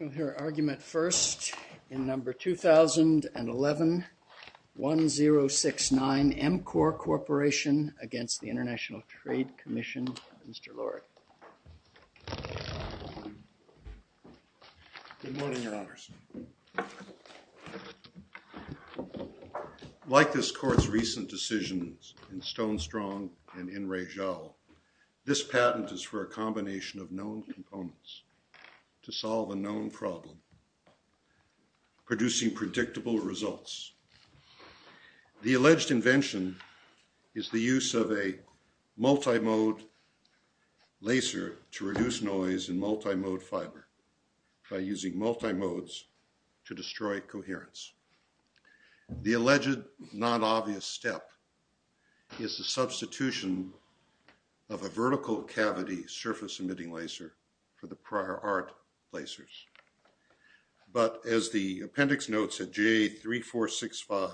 2011-1069 MCORE CORPORATION v. ITC Good morning, Your Honors. Like this Court's recent decisions in Stonestrong and in Rejal, this patent is for a combination of known components to solve a known problem, producing predictable results. The alleged invention is the use of a multi-mode laser to reduce noise in multi-mode fiber by using multi-modes to destroy coherence. The alleged non-obvious step is the substitution of a vertical cavity surface-emitting laser for the prior art lasers. But as the appendix notes at JA3465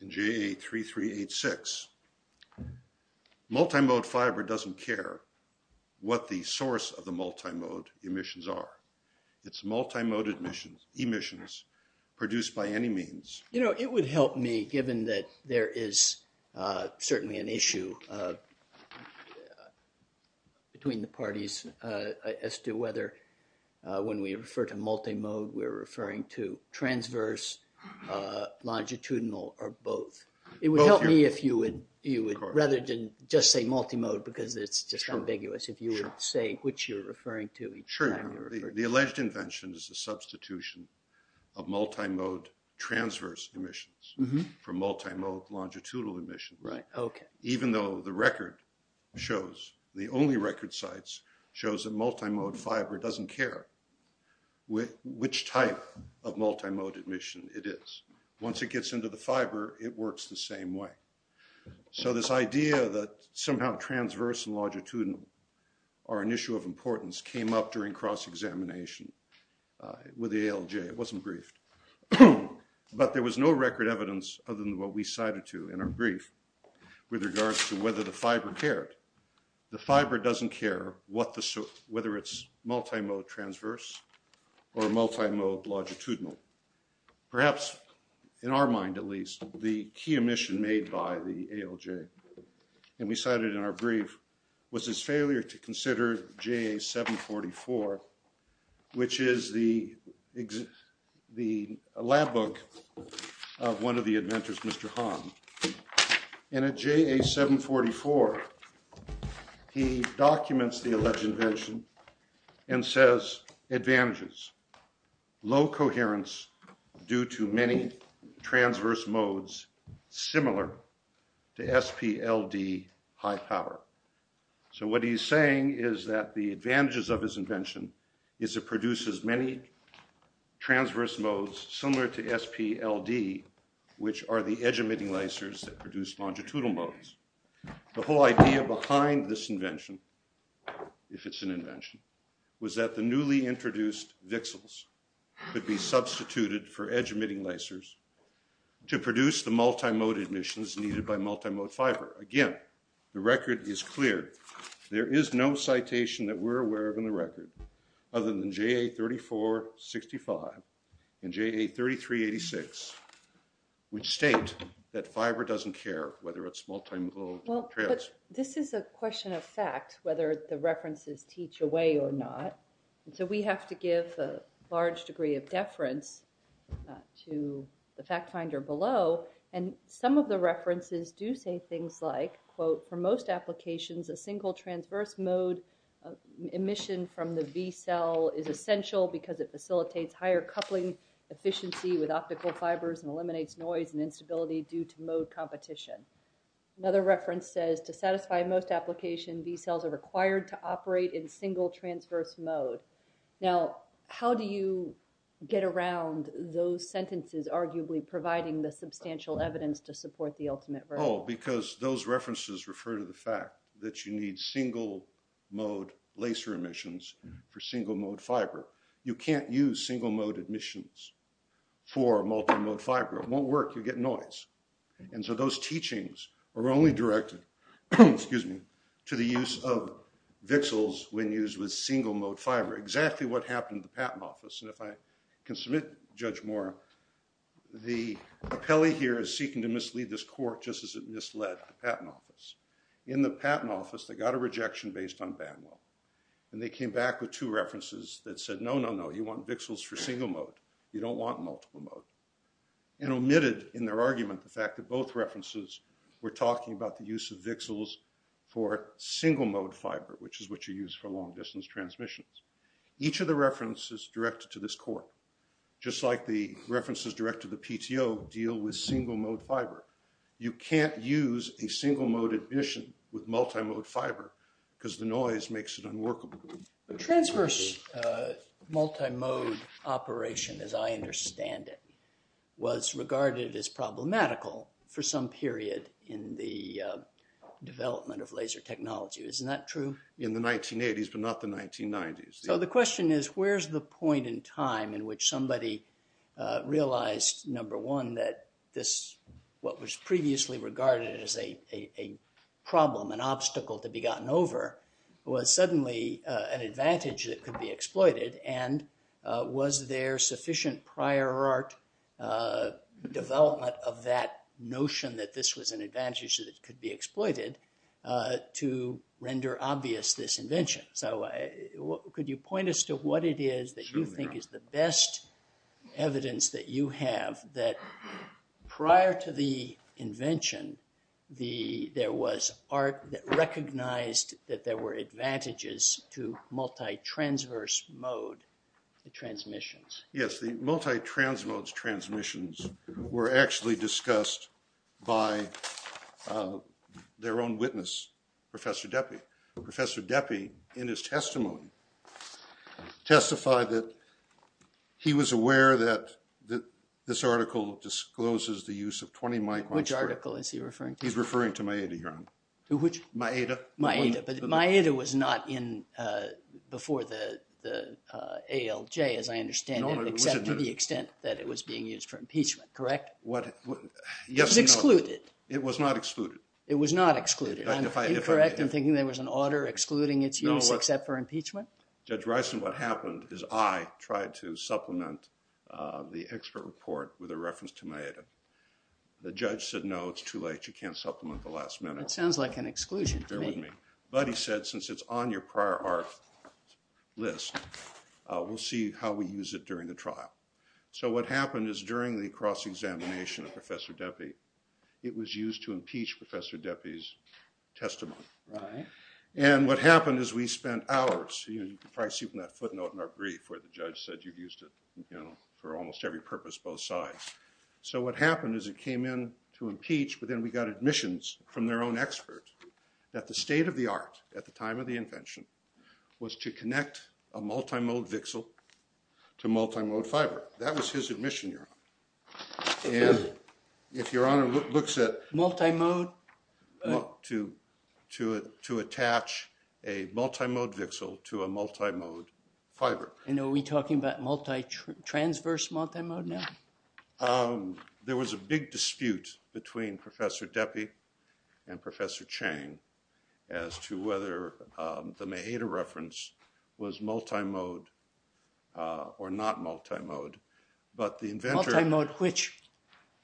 and JA3386, multi-mode fiber doesn't care what the source of the multi-mode emissions are. It's multi-mode emissions produced by any means. You know, it would help me given that there is certainly an issue between the parties as to whether when we refer to multi-mode we're referring to transverse, longitudinal, or both. It would help me if you would rather just say multi-mode because it's just ambiguous if you would say which you're referring to each time you refer to it. Sure. The alleged invention is the substitution of multi-mode transverse emissions for multi-mode longitudinal emissions. Even though the record shows, the only record sites, shows that multi-mode fiber doesn't care which type of multi-mode emission it is. Once it gets into the fiber, it works the same way. So this idea that somehow transverse and longitudinal are an issue of importance came up during cross-examination with the ALJ, it wasn't briefed. But there was no record evidence other than what we cited to in our brief with regards to whether the fiber cared. The fiber doesn't care whether it's multi-mode transverse or multi-mode longitudinal. Perhaps in our mind at least, the key emission made by the ALJ and we cited in our brief was his failure to consider JA744, which is the lab book of one of the inventors, Mr. Han. And at JA744, he documents the alleged invention and says, advantages, low coherence due to many transverse modes similar to SPLD high power. So what he's saying is that the advantages of his invention is it produces many transverse modes similar to SPLD, which are the edge emitting lasers that produce longitudinal modes. The whole idea behind this invention, if it's an invention, was that the newly introduced VCSELs could be substituted for edge emitting lasers to produce the multi-mode emissions needed by multi-mode fiber. Again, the record is clear. There is no citation that we're aware of in the record other than JA3465 and JA3386, which state that fiber doesn't care whether it's multi-mode transverse. This is a question of fact, whether the references teach away or not. And so we have to give a large degree of deference to the fact finder below. And some of the references do say things like, quote, for most applications, a single transverse mode emission from the VCEL is essential because it facilitates higher coupling efficiency with optical fibers and eliminates noise and instability due to mode competition. Another reference says, to satisfy most application, VCELs are required to operate in single transverse mode. Now, how do you get around those sentences arguably providing the substantial evidence to support the ultimate version? Because those references refer to the fact that you need single-mode laser emissions for single-mode fiber. You can't use single-mode emissions for multi-mode fiber. It won't work. You get noise. And so those teachings are only directed to the use of VCSELs when used with single-mode fiber, exactly what happened in the Patent Office. And if I can submit Judge Moore, the appellee here is seeking to mislead this court just as it misled the Patent Office. In the Patent Office, they got a rejection based on BAMWO. And they came back with two references that said, no, no, no, you want VCSELs for single-mode. You don't want multiple-mode. And omitted in their argument the fact that both references were talking about the use of VCSELs for single-mode fiber, which is what you use for long-distance transmissions. Each of the references directed to this court, just like the references directed to the PTO, deal with single-mode fiber. You can't use a single-mode emission with multi-mode fiber because the noise makes it unworkable. The transverse multi-mode operation, as I understand it, was regarded as problematical for some period in the development of laser technology. Isn't that true? In the 1980s, but not the 1990s. So the question is, where's the point in time in which somebody realized, number one, that this, what was previously regarded as a problem, an obstacle to be gotten over, was suddenly an advantage that could be exploited? And was there sufficient prior art development of that notion that this was an advantage that could be exploited to render obvious this invention? So could you point us to what it is that you think is the best evidence that you have that prior to the invention, there was art that recognized that there were advantages to multi-transverse mode transmissions? Yes, the multi-transmode transmissions were actually discussed by their own witness, Professor Deppie. Professor Deppie, in his testimony, testified that he was aware that this article discloses the use of 20 microns per... Which article is he referring to? He's referring to Maeda here. To which? Maeda. Maeda. But Maeda was not in before the ALJ, as I understand it, except to the extent that it was being used for impeachment, correct? Yes, no. It was excluded. It was not excluded. It was not excluded. In fact, if I... I'm incorrect. I'm thinking there was an order excluding its use except for impeachment? No, what... Judge Rison, what happened is I tried to supplement the expert report with a reference to Maeda. The judge said, no, it's too late. You can't supplement the last minute. It sounds like an exclusion to me. Bear with me. But he said, since it's on your prior art list, we'll see how we use it during the trial. So what happened is during the cross-examination of Professor Deppie, it was used to impeach Professor Deppie's testimony. And what happened is we spent hours... You can probably see from that footnote in our brief where the judge said you've used it for almost every purpose, both sides. So what happened is it came in to impeach, but then we got admissions from their own expert that the state of the art at the time of the invention was to connect a multimode VXL to multimode fiber. That was his admission, Your Honor. And if Your Honor looks at... Multimode... Well, to attach a multimode VXL to a multimode fiber. And are we talking about multitransverse multimode now? There was a big dispute between Professor Deppie and Professor Chang as to whether the Mahater reference was multimode or not multimode. But the inventor... Multimode which?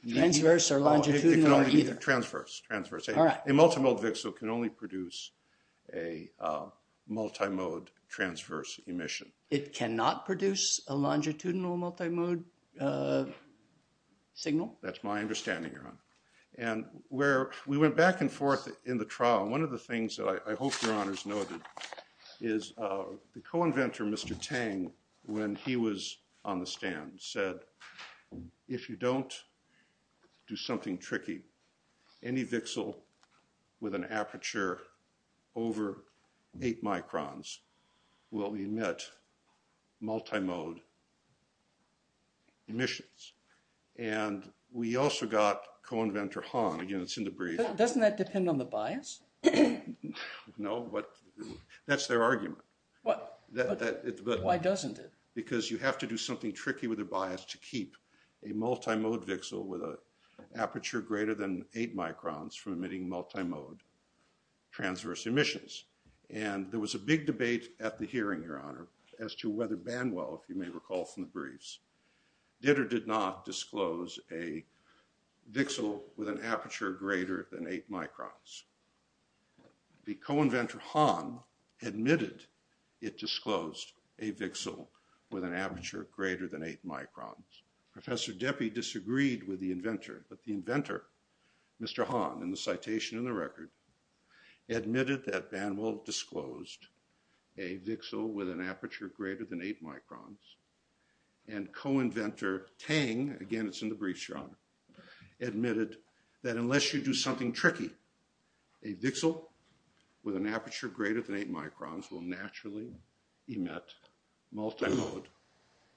Transverse or longitudinal or either? It can only be transverse. Transverse. All right. A multimode VXL can only produce a multimode transverse emission. It cannot produce a longitudinal multimode signal? That's my understanding, Your Honor. And where we went back and forth in the trial, one of the things that I hope Your Honors noted is the co-inventor, Mr. Tang, when he was on the stand said, if you don't do something with a multimode transverse emissions, and we also got co-inventor Hong, again it's in the brief. Doesn't that depend on the bias? No, but that's their argument. Why doesn't it? Because you have to do something tricky with a bias to keep a multimode VXL with an aperture greater than eight microns from emitting multimode transverse emissions. And there was a big debate at the hearing, Your Honor, as to whether Banwell, if you may recall from the briefs, did or did not disclose a VXL with an aperture greater than eight microns. The co-inventor Hong admitted it disclosed a VXL with an aperture greater than eight microns. Professor Deppey disagreed with the inventor, but the inventor, Mr. Hong, in the citation in the record, admitted that Banwell disclosed a VXL with an aperture greater than eight microns, and co-inventor Tang, again it's in the briefs, Your Honor, admitted that unless you do something tricky, a VXL with an aperture greater than eight microns will naturally emit multimode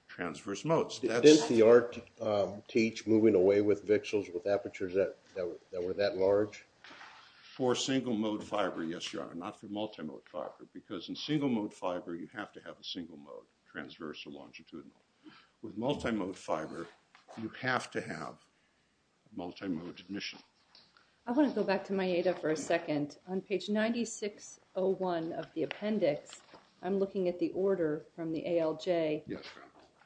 transverse modes. Didn't the art teach moving away with VXLs with apertures that were that large? For single mode fiber, yes, Your Honor, not for multimode fiber, because in single mode fiber you have to have a single mode, transverse or longitudinal. With multimode fiber, you have to have multimode emission. I want to go back to MIATA for a second. On page 9601 of the appendix, I'm looking at the order from the ALJ. Yes, Your Honor.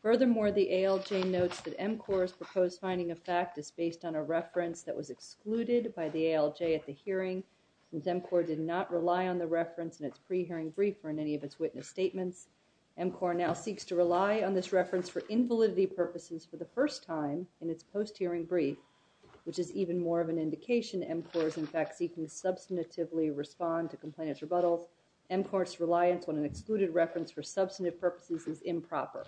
Furthermore, the ALJ notes that MCOR's proposed finding of fact is based on a reference that was excluded by the ALJ at the hearing, since MCOR did not rely on the reference in its pre-hearing brief or in any of its witness statements. MCOR now seeks to rely on this reference for invalidity purposes for the first time in its post-hearing brief, which is even more of an indication that MCOR is in fact seeking to substantively respond to complainant's rebuttals. MCOR's reliance on an excluded reference for substantive purposes is improper.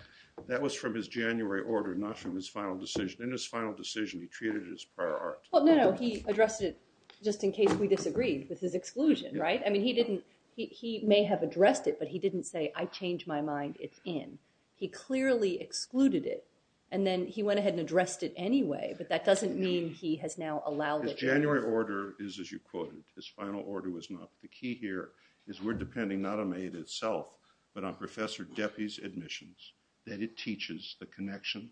That was from his January order, not from his final decision. In his final decision, he treated it as prior art. Well, no, no, he addressed it just in case we disagreed with his exclusion, right? I mean, he may have addressed it, but he didn't say, I changed my mind, it's in. He clearly excluded it, and then he went ahead and addressed it anyway, but that doesn't mean he has now allowed it. His January order is, as you quoted, his final order was not. The key here is we're depending not on May itself, but on Professor Deppie's admissions, that it teaches the connection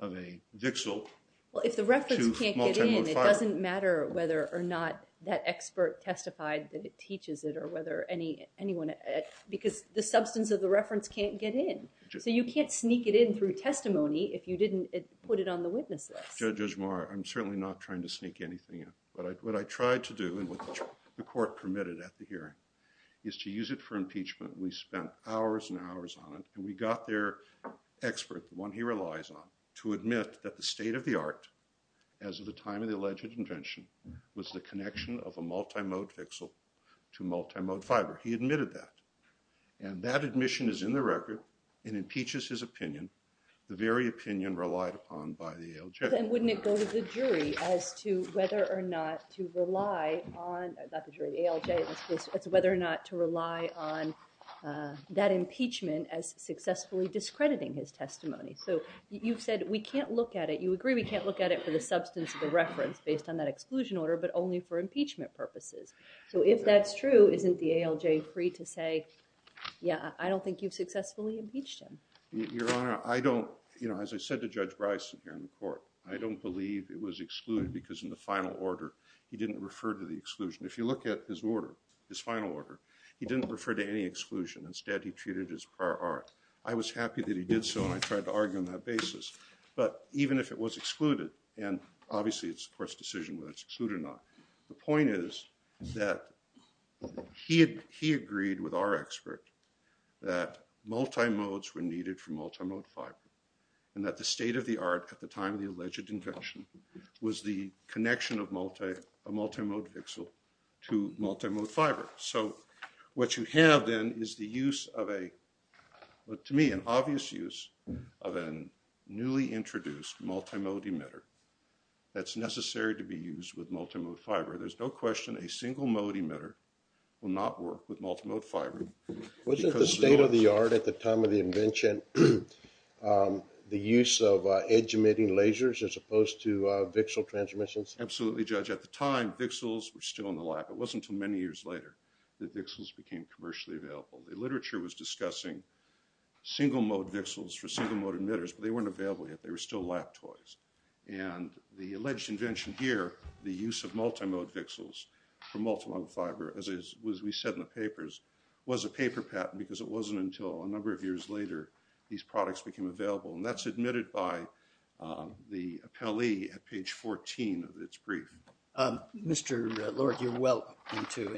of a vixal to multimodifier. Well, if the reference can't get in, it doesn't matter whether or not that expert testified that it teaches it or whether anyone, because the substance of the reference can't get in. So you can't sneak it in through testimony if you didn't put it on the witnesses. Judge Moore, I'm certainly not trying to sneak anything in, but what I tried to do, and what the court permitted at the hearing, is to use it for impeachment. We spent hours and hours on it, and we got their expert, the one he relies on, to admit that the state of the art, as of the time of the alleged invention, was the connection of a multimode vixal to multimode fiber. He admitted that, and that admission is in the record and impeaches his opinion, the very opinion relied upon by the ALJ. Then wouldn't it go to the jury as to whether or not to rely on, not the jury, the ALJ, as to whether or not to rely on that impeachment as successfully discrediting his testimony? So you've said, we can't look at it, you agree we can't look at it for the substance of the reference based on that exclusion order, but only for impeachment purposes. So if that's true, isn't the ALJ free to say, yeah, I don't think you've successfully impeached him? Your Honor, I don't, you know, as I said to Judge Bryson here in the court, I don't believe it was excluded because in the final order, he didn't refer to the exclusion. If you look at his order, his final order, he didn't refer to any exclusion. Instead, he treated it as prior art. I was happy that he did so, and I tried to argue on that basis. But even if it was excluded, and obviously it's the court's decision whether it's excluded or not. The point is that he agreed with our expert that multimodes were needed for multimode fiber, and that the state of the art at the time of the alleged invention was the connection of a multimode pixel to multimode fiber. So what you have then is the use of a, to me, an obvious use of a newly introduced multimode emitter that's necessary to be used with multimode fiber. There's no question a single mode emitter will not work with multimode fiber. Wasn't the state of the art at the time of the invention the use of edge emitting lasers as opposed to VXL transmissions? Absolutely, Judge. At the time, VXLs were still in the lab. It wasn't until many years later that VXLs became commercially available. The literature was discussing single mode VXLs for single mode emitters, but they weren't available yet. They were still lab toys. And the alleged invention here, the use of multimode VXLs for multimode fiber, as we said in the papers, was a paper patent because it wasn't until a number of years later these products became available. And that's admitted by the appellee at page 14 of its brief. Mr. Lord, you're well into,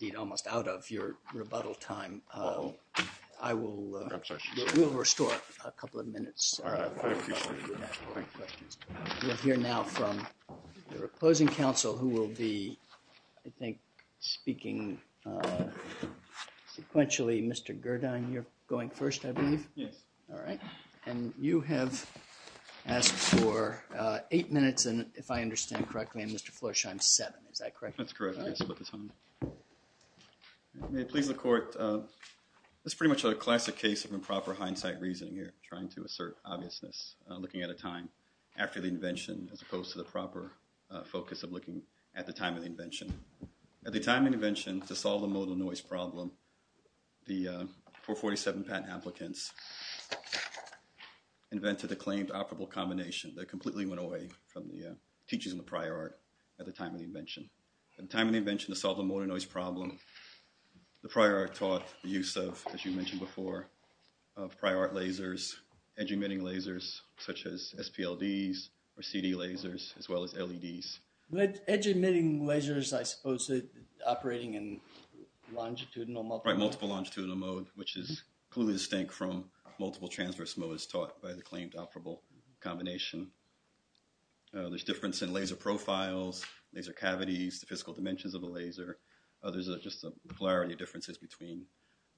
indeed, almost out of your rebuttal time. I will restore a couple of minutes. All right. I appreciate it. Thank you. We'll hear now from the opposing counsel, who will be, I think, speaking sequentially. Mr. Gerdin, you're going first, I believe? Yes. All right. And you have asked for eight minutes, if I understand correctly, on Mr. Florsheim's seven. Is that correct? That's correct. I split the time. May it please the Court, this is pretty much a classic case of improper hindsight reasoning here, trying to assert obviousness, looking at a time after the invention, as opposed to the proper focus of looking at the time of the invention. At the time of the invention, to solve the modal noise problem, the 447 patent applicants invented a claimed operable combination that completely went away from the teachings of the prior art at the time of the invention. At the time of the invention, to solve the modal noise problem, the prior art taught the use of, as you mentioned before, of prior art lasers, edge emitting lasers, such as SPLDs, or CD lasers, as well as LEDs. But edge emitting lasers, I suppose, are operating in longitudinal, multiple? Right, multiple longitudinal mode, which is clearly distinct from multiple transverse modes taught by the claimed operable combination. There's difference in laser profiles, laser cavities, the physical dimensions of the laser. There's just a polarity of differences between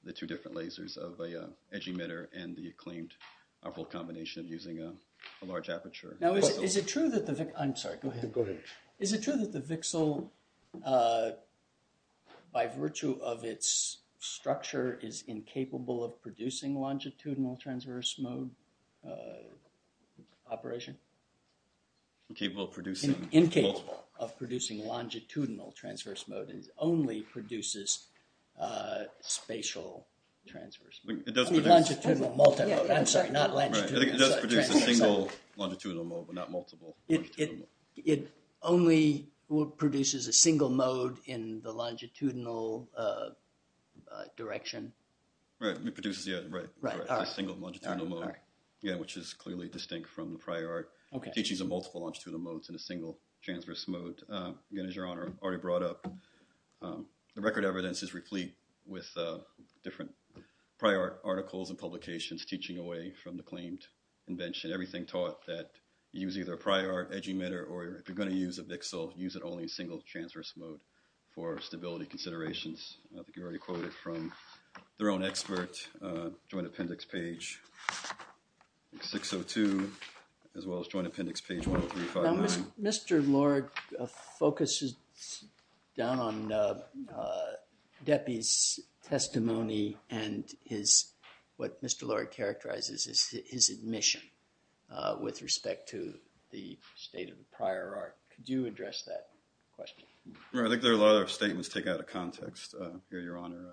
the two different lasers of an edge emitter and the claimed operable combination using a large aperture. Now, is it true that the Vixel, by virtue of its structure, is incapable of producing longitudinal transverse mode operation? Incapable of producing longitudinal transverse mode, it only produces spatial transverse mode. Longitudinal multimode, I'm sorry, not longitudinal transverse mode. It does produce a single longitudinal mode, but not multiple longitudinal modes. It only produces a single mode in the longitudinal direction? Right, it produces a single longitudinal mode, which is clearly distinct from the prior art teachings of multiple longitudinal modes in a single transverse mode. Again, as Your Honor already brought up, the record evidence is replete with different prior articles and publications teaching away from the claimed invention. Everything taught that you use either a prior edge emitter, or if you're going to use a Vixel, use it only in single transverse mode for stability considerations. I think you already quoted from their own expert joint appendix page 602, as well as joint appendix page 10359. Mr. Lord focuses down on Deppey's testimony and what Mr. Lord characterizes as his admission with respect to the state of the prior art. Could you address that question? I think there are a lot of statements taken out of context here, Your Honor.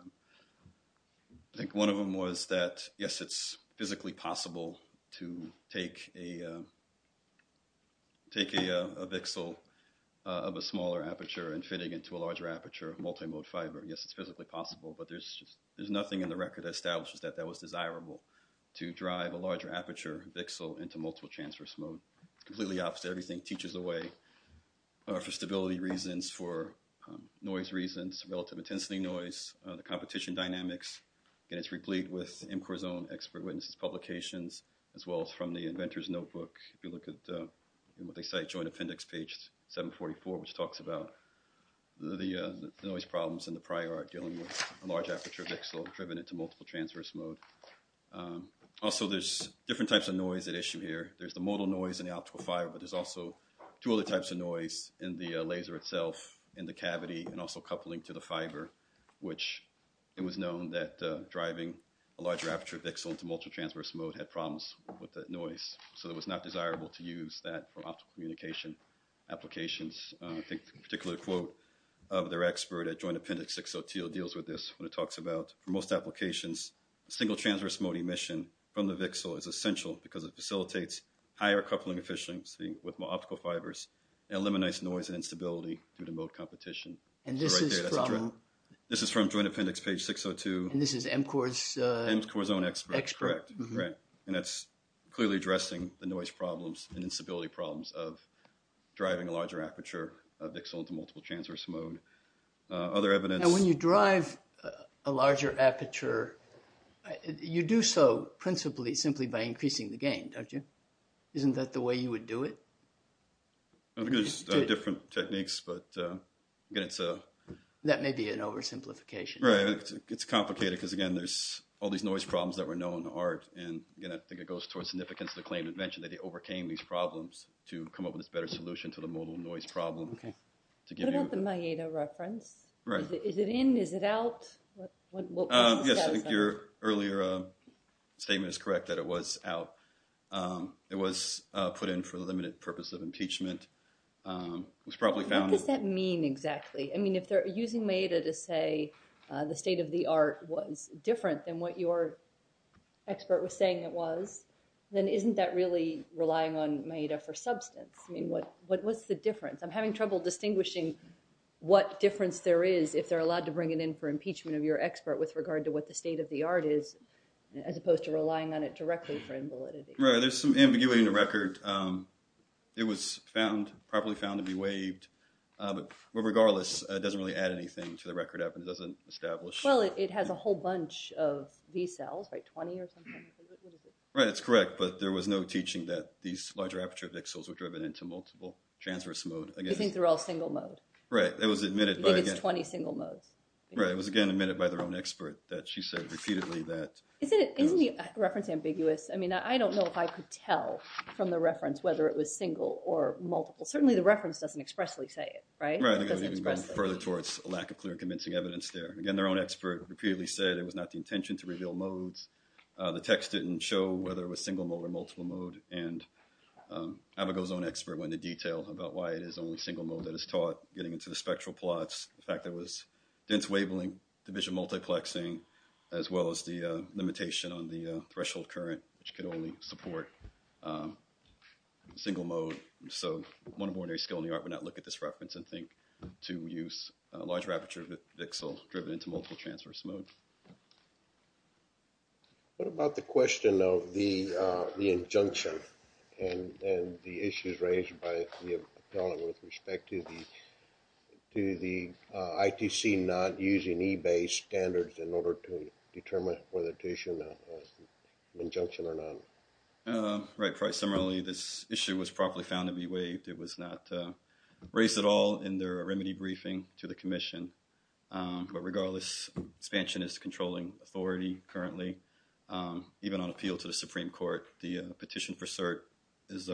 I think one of them was that, yes, it's physically possible to take a Vixel of a smaller aperture and fit it into a larger aperture of multimode fiber. Yes, it's physically possible, but there's nothing in the record that establishes that that was desirable to drive a larger aperture Vixel into multiple transverse mode. It's completely opposite. Everything teaches away for stability reasons, for noise reasons, relative intensity noise, the competition dynamics. Again, it's replete with MCOR's own expert witnesses' publications, as well as from the inventor's notebook. If you look at what they cite, joint appendix page 744, which talks about the noise problems in the prior art dealing with a large aperture Vixel driven into multiple transverse mode. Also, there's different types of noise at issue here. There's the modal noise and the optical fiber, but there's also two other types of noise in the laser itself, in the cavity, and also coupling to the fiber, which it was known that driving a larger aperture Vixel into multiple transverse mode had problems with that noise. So it was not desirable to use that for optical communication applications. I think a particular quote of their expert at joint appendix 602 deals with this when it talks about, for most applications, single transverse mode emission from the Vixel is what facilitates higher coupling efficiency with more optical fibers and eliminates noise and instability due to mode competition. And this is from? This is from joint appendix page 602. And this is MCOR's? MCOR's own expert. Expert. Correct. And that's clearly addressing the noise problems and instability problems of driving a larger aperture of Vixel into multiple transverse mode. Other evidence? Now, when you drive a larger aperture, you do so principally simply by increasing the gain, don't you? Isn't that the way you would do it? I think there's different techniques, but again, it's a... That may be an oversimplification. Right. It's complicated because, again, there's all these noise problems that were known in art and, again, I think it goes towards significance of the claim that mentioned that they overcame these problems to come up with this better solution to the modal noise problem. Okay. What about the Maeda reference? Right. Is it in? Is it out? Yes, your earlier statement is correct that it was out. It was put in for the limited purpose of impeachment. What does that mean exactly? I mean, if they're using Maeda to say the state of the art was different than what your expert was saying it was, then isn't that really relying on Maeda for substance? I mean, what's the difference? I'm having trouble distinguishing what difference there is if they're allowed to bring it in for impeachment of your expert with regard to what the state of the art is as opposed to relying on it directly for invalidity. Right. There's some ambiguity in the record. It was found, properly found to be waived, but regardless, it doesn't really add anything to the record. It doesn't establish... Well, it has a whole bunch of V cells, right, 20 or something. Right. It's correct, but there was no teaching that these larger aperture pixels were driven into multiple transverse mode. You think they're all single mode? Right. It was admitted by... You think it's 20 single modes? Right. It was, again, admitted by their own expert that she said repeatedly that... Isn't the reference ambiguous? I mean, I don't know if I could tell from the reference whether it was single or multiple. Certainly, the reference doesn't expressly say it, right? Right. It doesn't express it. Further towards a lack of clear convincing evidence there. Again, their own expert repeatedly said it was not the intention to reveal modes. The text didn't show whether it was single mode or multiple mode, and Abigail's own expert went into detail about why it is only single mode that is taught, getting into the spectral plots. In fact, there was dense wavelength, division multiplexing, as well as the limitation on the threshold current, which could only support single mode. So, one ordinary skill in the art would not look at this reference and think to use a large aperture pixel driven into multiple transverse mode. What about the question of the injunction and the issues raised by the appellant with respect to the ITC not using eBay standards in order to determine whether to issue an injunction or not? Right. Similarly, this issue was properly found to be waived. It was not raised at all in their remedy briefing to the commission. But regardless, expansion is controlling authority currently, even on appeal to the Supreme Court. The petition for cert is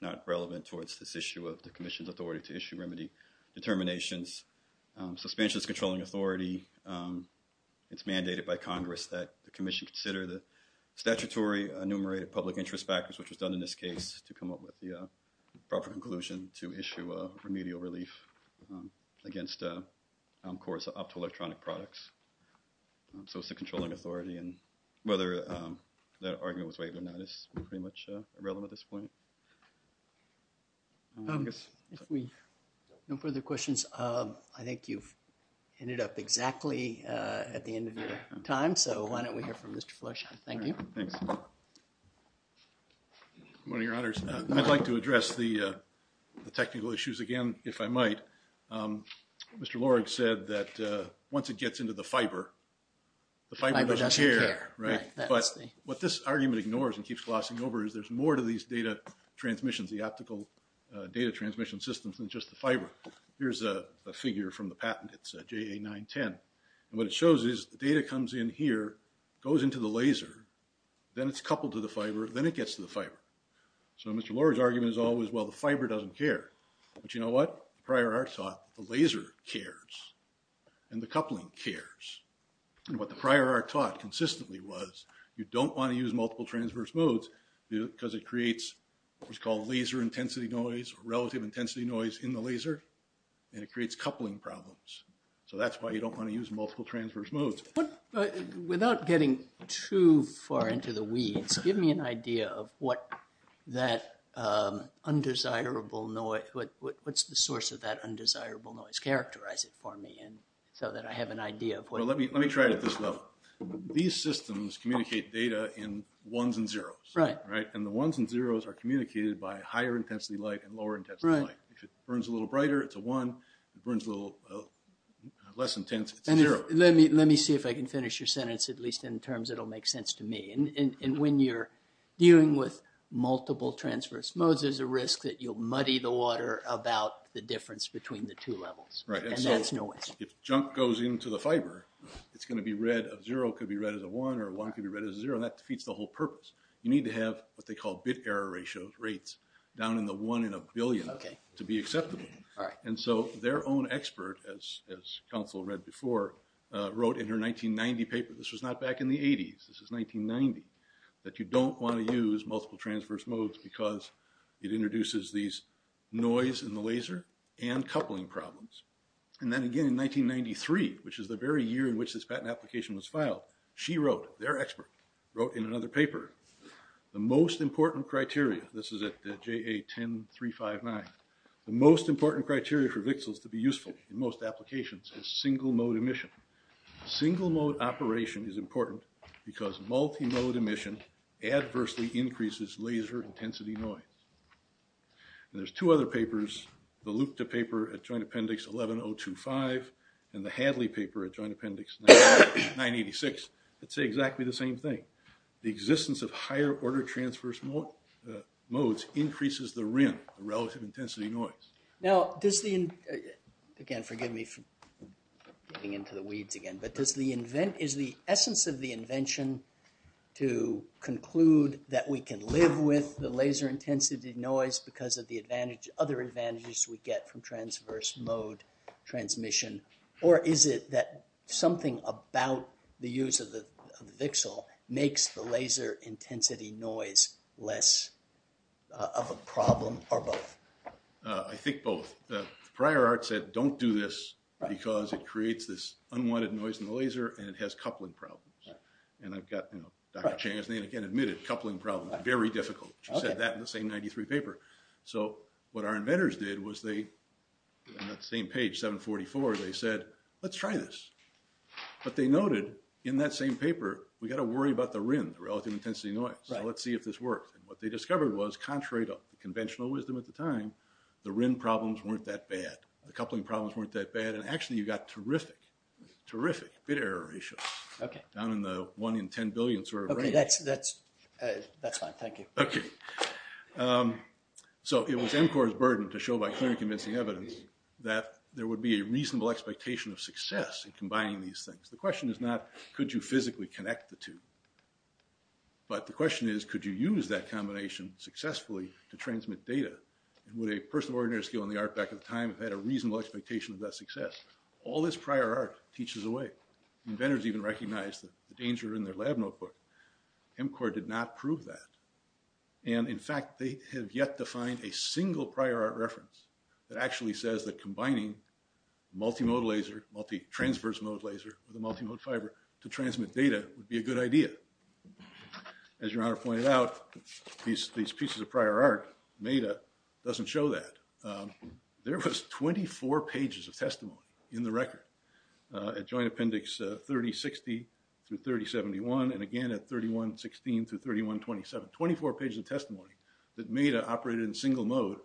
not relevant towards this issue of the commission's authority to issue remedy determinations. So, expansion is controlling authority. It's mandated by Congress that the commission consider the statutory enumerated public interest factors, which was done in this case to come up with the proper conclusion to issue a remedial relief against courts up to electronic products. So, it's a controlling authority and whether that argument was waived or not is pretty much irrelevant at this point. If we have no further questions, I think you've ended up exactly at the end of your time. So, why don't we hear from Mr. Fleish? Thank you. Thanks. Good morning, Your Honors. I'd like to address the technical issues again, if I might. Mr. Lorig said that once it gets into the fiber, the fiber doesn't care. Right. But what this argument ignores and keeps glossing over is there's more to these data transmissions, the optical data transmission systems than just the fiber. Here's a figure from the patent. It's JA-910. And what it shows is the data comes in here, goes into the laser, then it's coupled to the fiber, then it gets to the fiber. So, Mr. Lorig's argument is always, well, the fiber doesn't care. But you know what? Prior art taught, the laser cares and the coupling cares. And what the prior art taught consistently was you don't want to use multiple transverse modes because it creates what's called laser intensity noise, relative intensity noise in the laser, and it creates coupling problems. So, that's why you don't want to use multiple transverse modes. Without getting too far into the weeds, give me an idea of what that undesirable noise… what's the source of that undesirable noise? Characterize it for me so that I have an idea of what… Well, let me try it at this level. These systems communicate data in ones and zeros. Right. Right? And the ones and zeros are communicated by higher intensity light and lower intensity light. Right. If it burns a little brighter, it's a one. If it burns a little less intense, it's a zero. Let me see if I can finish your sentence, at least in terms that will make sense to me. And when you're dealing with multiple transverse modes, there's a risk that you'll muddy the water about the difference between the two levels. Right. And that's noise. And so, if junk goes into the fiber, it's going to be red of zero. It could be red as a one or a one could be red as a zero. And that defeats the whole purpose. You need to have what they call bit error ratio rates down in the one in a billion to be acceptable. All right. And so, their own expert, as counsel read before, wrote in her 1990 paper, this was not back in the 80s, this was 1990, that you don't want to use multiple transverse modes because it introduces these noise in the laser and coupling problems. And then again in 1993, which is the very year in which this patent application was filed, she wrote, their expert, wrote in another paper, the most important criteria, this is like the JA10359, the most important criteria for VCSELs to be useful in most applications is single mode emission. Single mode operation is important because multi-mode emission adversely increases laser intensity noise. And there's two other papers, the Lupta paper at Joint Appendix 11.025 and the Hadley paper at Joint Appendix 986 that say exactly the same thing. The existence of higher order transverse modes increases the RIN, the relative intensity noise. Now, does the, again forgive me for getting into the weeds again, but is the essence of the invention to conclude that we can live with the laser intensity noise because of the other advantages we get from transverse mode transmission, or is it that something about the use of the VCSEL makes the laser intensity noise less of a problem or both? I think both. Prior Art said don't do this because it creates this unwanted noise in the laser and it has coupling problems. And I've got, you know, Dr. Chang has again admitted coupling problems are very difficult. She said that in the same 93 paper. So what our inventors did was they, on that same page, 744, they said let's try this. But they noted in that same paper we've got to worry about the RIN, the relative intensity noise. So let's see if this works. And what they discovered was, contrary to conventional wisdom at the time, the RIN problems weren't that bad. The coupling problems weren't that bad. And actually you got terrific, terrific bit error ratios. Okay. Down in the 1 in 10 billion sort of range. Okay, that's fine. Thank you. Okay. So it was MCOR's burden to show by clearly convincing evidence that there would be a reasonable expectation of success in combining these things. The question is not could you physically connect the two. But the question is could you use that combination successfully to transmit data? And would a person with an ordinary skill in the art back at the time have had a reasonable expectation of that success? All this prior art teaches away. Inventors even recognized the danger in their lab notebook. MCOR did not prove that. And in fact, they have yet to find a single prior art reference that actually says that combining multi-mode laser, multi-transverse mode laser with a multi-mode fiber to transmit data would be a good idea. As Your Honor pointed out, these pieces of prior art, MEDA, doesn't show that. There was 24 pages of testimony in the record at Joint Appendix 3060 through 3071. And again at 3116 through 3127. 24 pages of testimony that MEDA operated in single mode.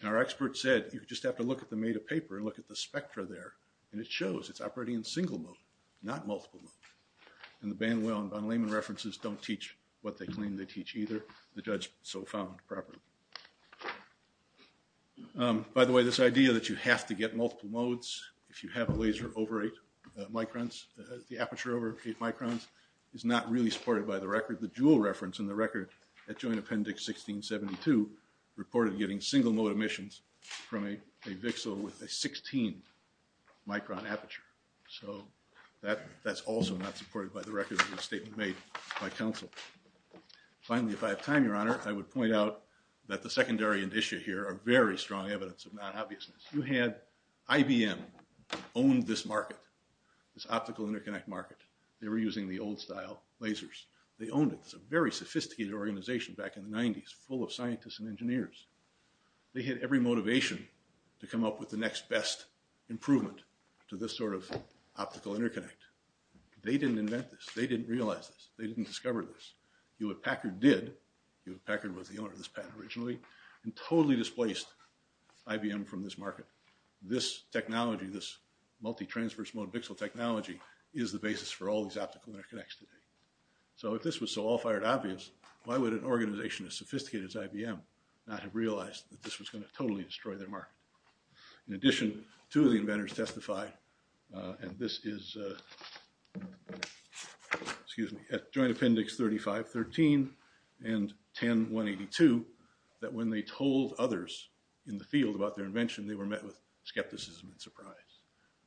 And our expert said you just have to look at the MEDA paper and look at the spectra there. And it shows it's operating in single mode, not multiple mode. And the Banwell and von Lehmann references don't teach what they claim they teach either. The judge so found properly. By the way, this idea that you have to get multiple modes if you have a laser over eight microns, the aperture over eight microns, is not really supported by the record. The Joule reference in the record at Joint Appendix 1672 reported getting single mode emissions from a VXL with a 16 micron aperture. So that's also not supported by the record of the statement made by counsel. Finally, if I have time, Your Honor, I would point out that the secondary and issue here are very strong evidence of non-obviousness. You had IBM own this market, this optical interconnect market. They were using the old style lasers. They owned it. It's a very sophisticated organization back in the 90s, full of scientists and engineers. They had every motivation to come up with the next best improvement to this sort of optical interconnect. They didn't invent this. They didn't realize this. They didn't discover this. Hewlett-Packard did. Hewlett-Packard was the owner of this patent originally. And totally displaced IBM from this market. This technology, this multi-transverse mode VXL technology is the basis for all these optical interconnects today. So if this was so all fired obvious, why would an organization as sophisticated as IBM not have realized that this was going to totally destroy their market? In addition, two of the inventors testify, and this is at Joint Appendix 3513 and 10182 that when they told others in the field about their invention, they were met with skepticism and surprise.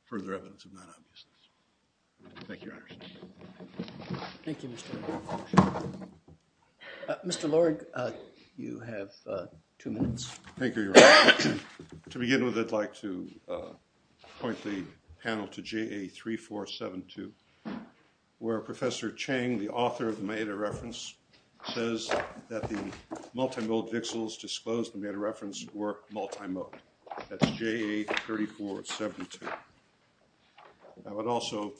Further evidence of non-obviousness. Thank you, Your Honor. Thank you, Mr. Laird. Mr. Laird, you have two minutes. Thank you, Your Honor. To begin with, I'd like to point the panel to JA3472 where Professor Chang, the author of the meta-reference, says that the multi-mode VXLs disclosed in the meta-reference were multi-mode. That's JA3472. I would also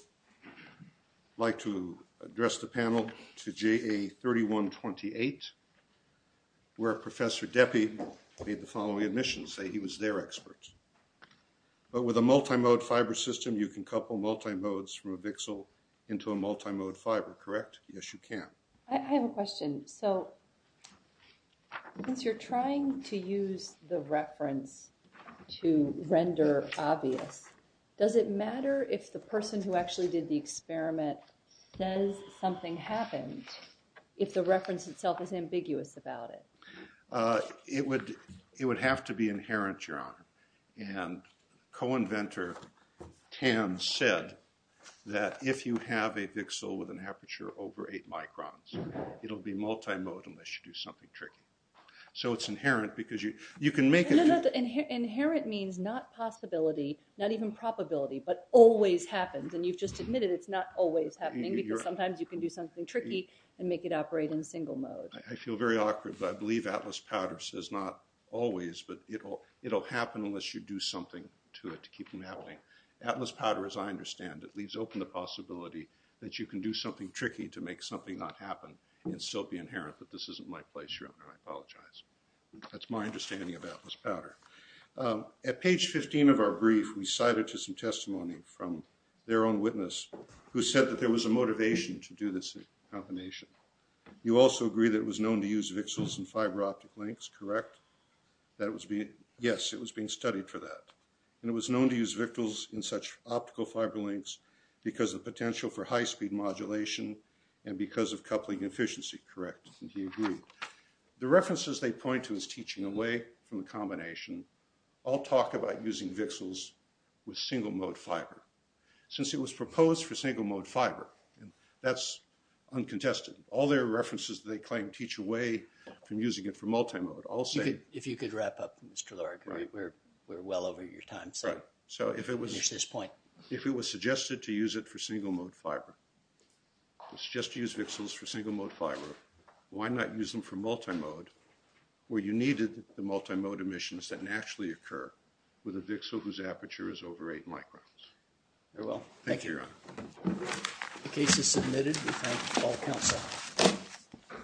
like to address the panel to JA3128 where Professor Deppie made the following admission, say he was their expert. But with a multi-mode fiber system, you can couple multi-modes from a VXL into a multi-mode fiber, correct? Yes, you can. I have a question. So since you're trying to use the reference to render obvious, does it matter if the person who actually did the experiment says something happened if the reference itself is ambiguous It would have to be inherent, Your Honor. And co-inventor Tan said that if you have a VXL with an aperture over 8 microns, it'll be multi-mode unless you do something tricky. So it's inherent because you can make it... No, no. Inherent means not possibility, not even probability, but always happens. And you've just admitted it's not always happening because sometimes you can do something tricky and make it operate in single mode. I feel very awkward, but I believe Atlas Powder says not always, but it'll happen unless you do something to it to keep from happening. Atlas Powder, as I understand it, leaves open the possibility that you can do something tricky to make something not happen and still be inherent. But this isn't my place, Your Honor. I apologize. That's my understanding of Atlas Powder. At page 15 of our brief, we cited to some testimony from their own witness who said that there was a motivation to do this combination. You also agree that it was known to use VXLs in fiber optic links, correct? That it was being... Yes, it was being studied for that. And it was known to use VXLs in such optical fiber links because of potential for high speed modulation and because of coupling efficiency, correct? And he agreed. The references they point to as teaching away from the combination all talk about using VXLs with single mode fiber. Since it was proposed for single mode fiber, that's uncontested. All their references, they claim, teach away from using it for multi-mode. I'll say... If you could wrap up, Mr. Lord, we're well over your time. Right. So if it was... Finish this point. If it was suggested to use it for single mode fiber, it's just to use VXLs for single mode fiber, why not use them for multi-mode where you needed the multi-mode emissions that naturally occur with a VXL whose aperture is over 8 microns? Very well. Thank you. Thank you, Your Honor. The case is submitted. We thank all counsel.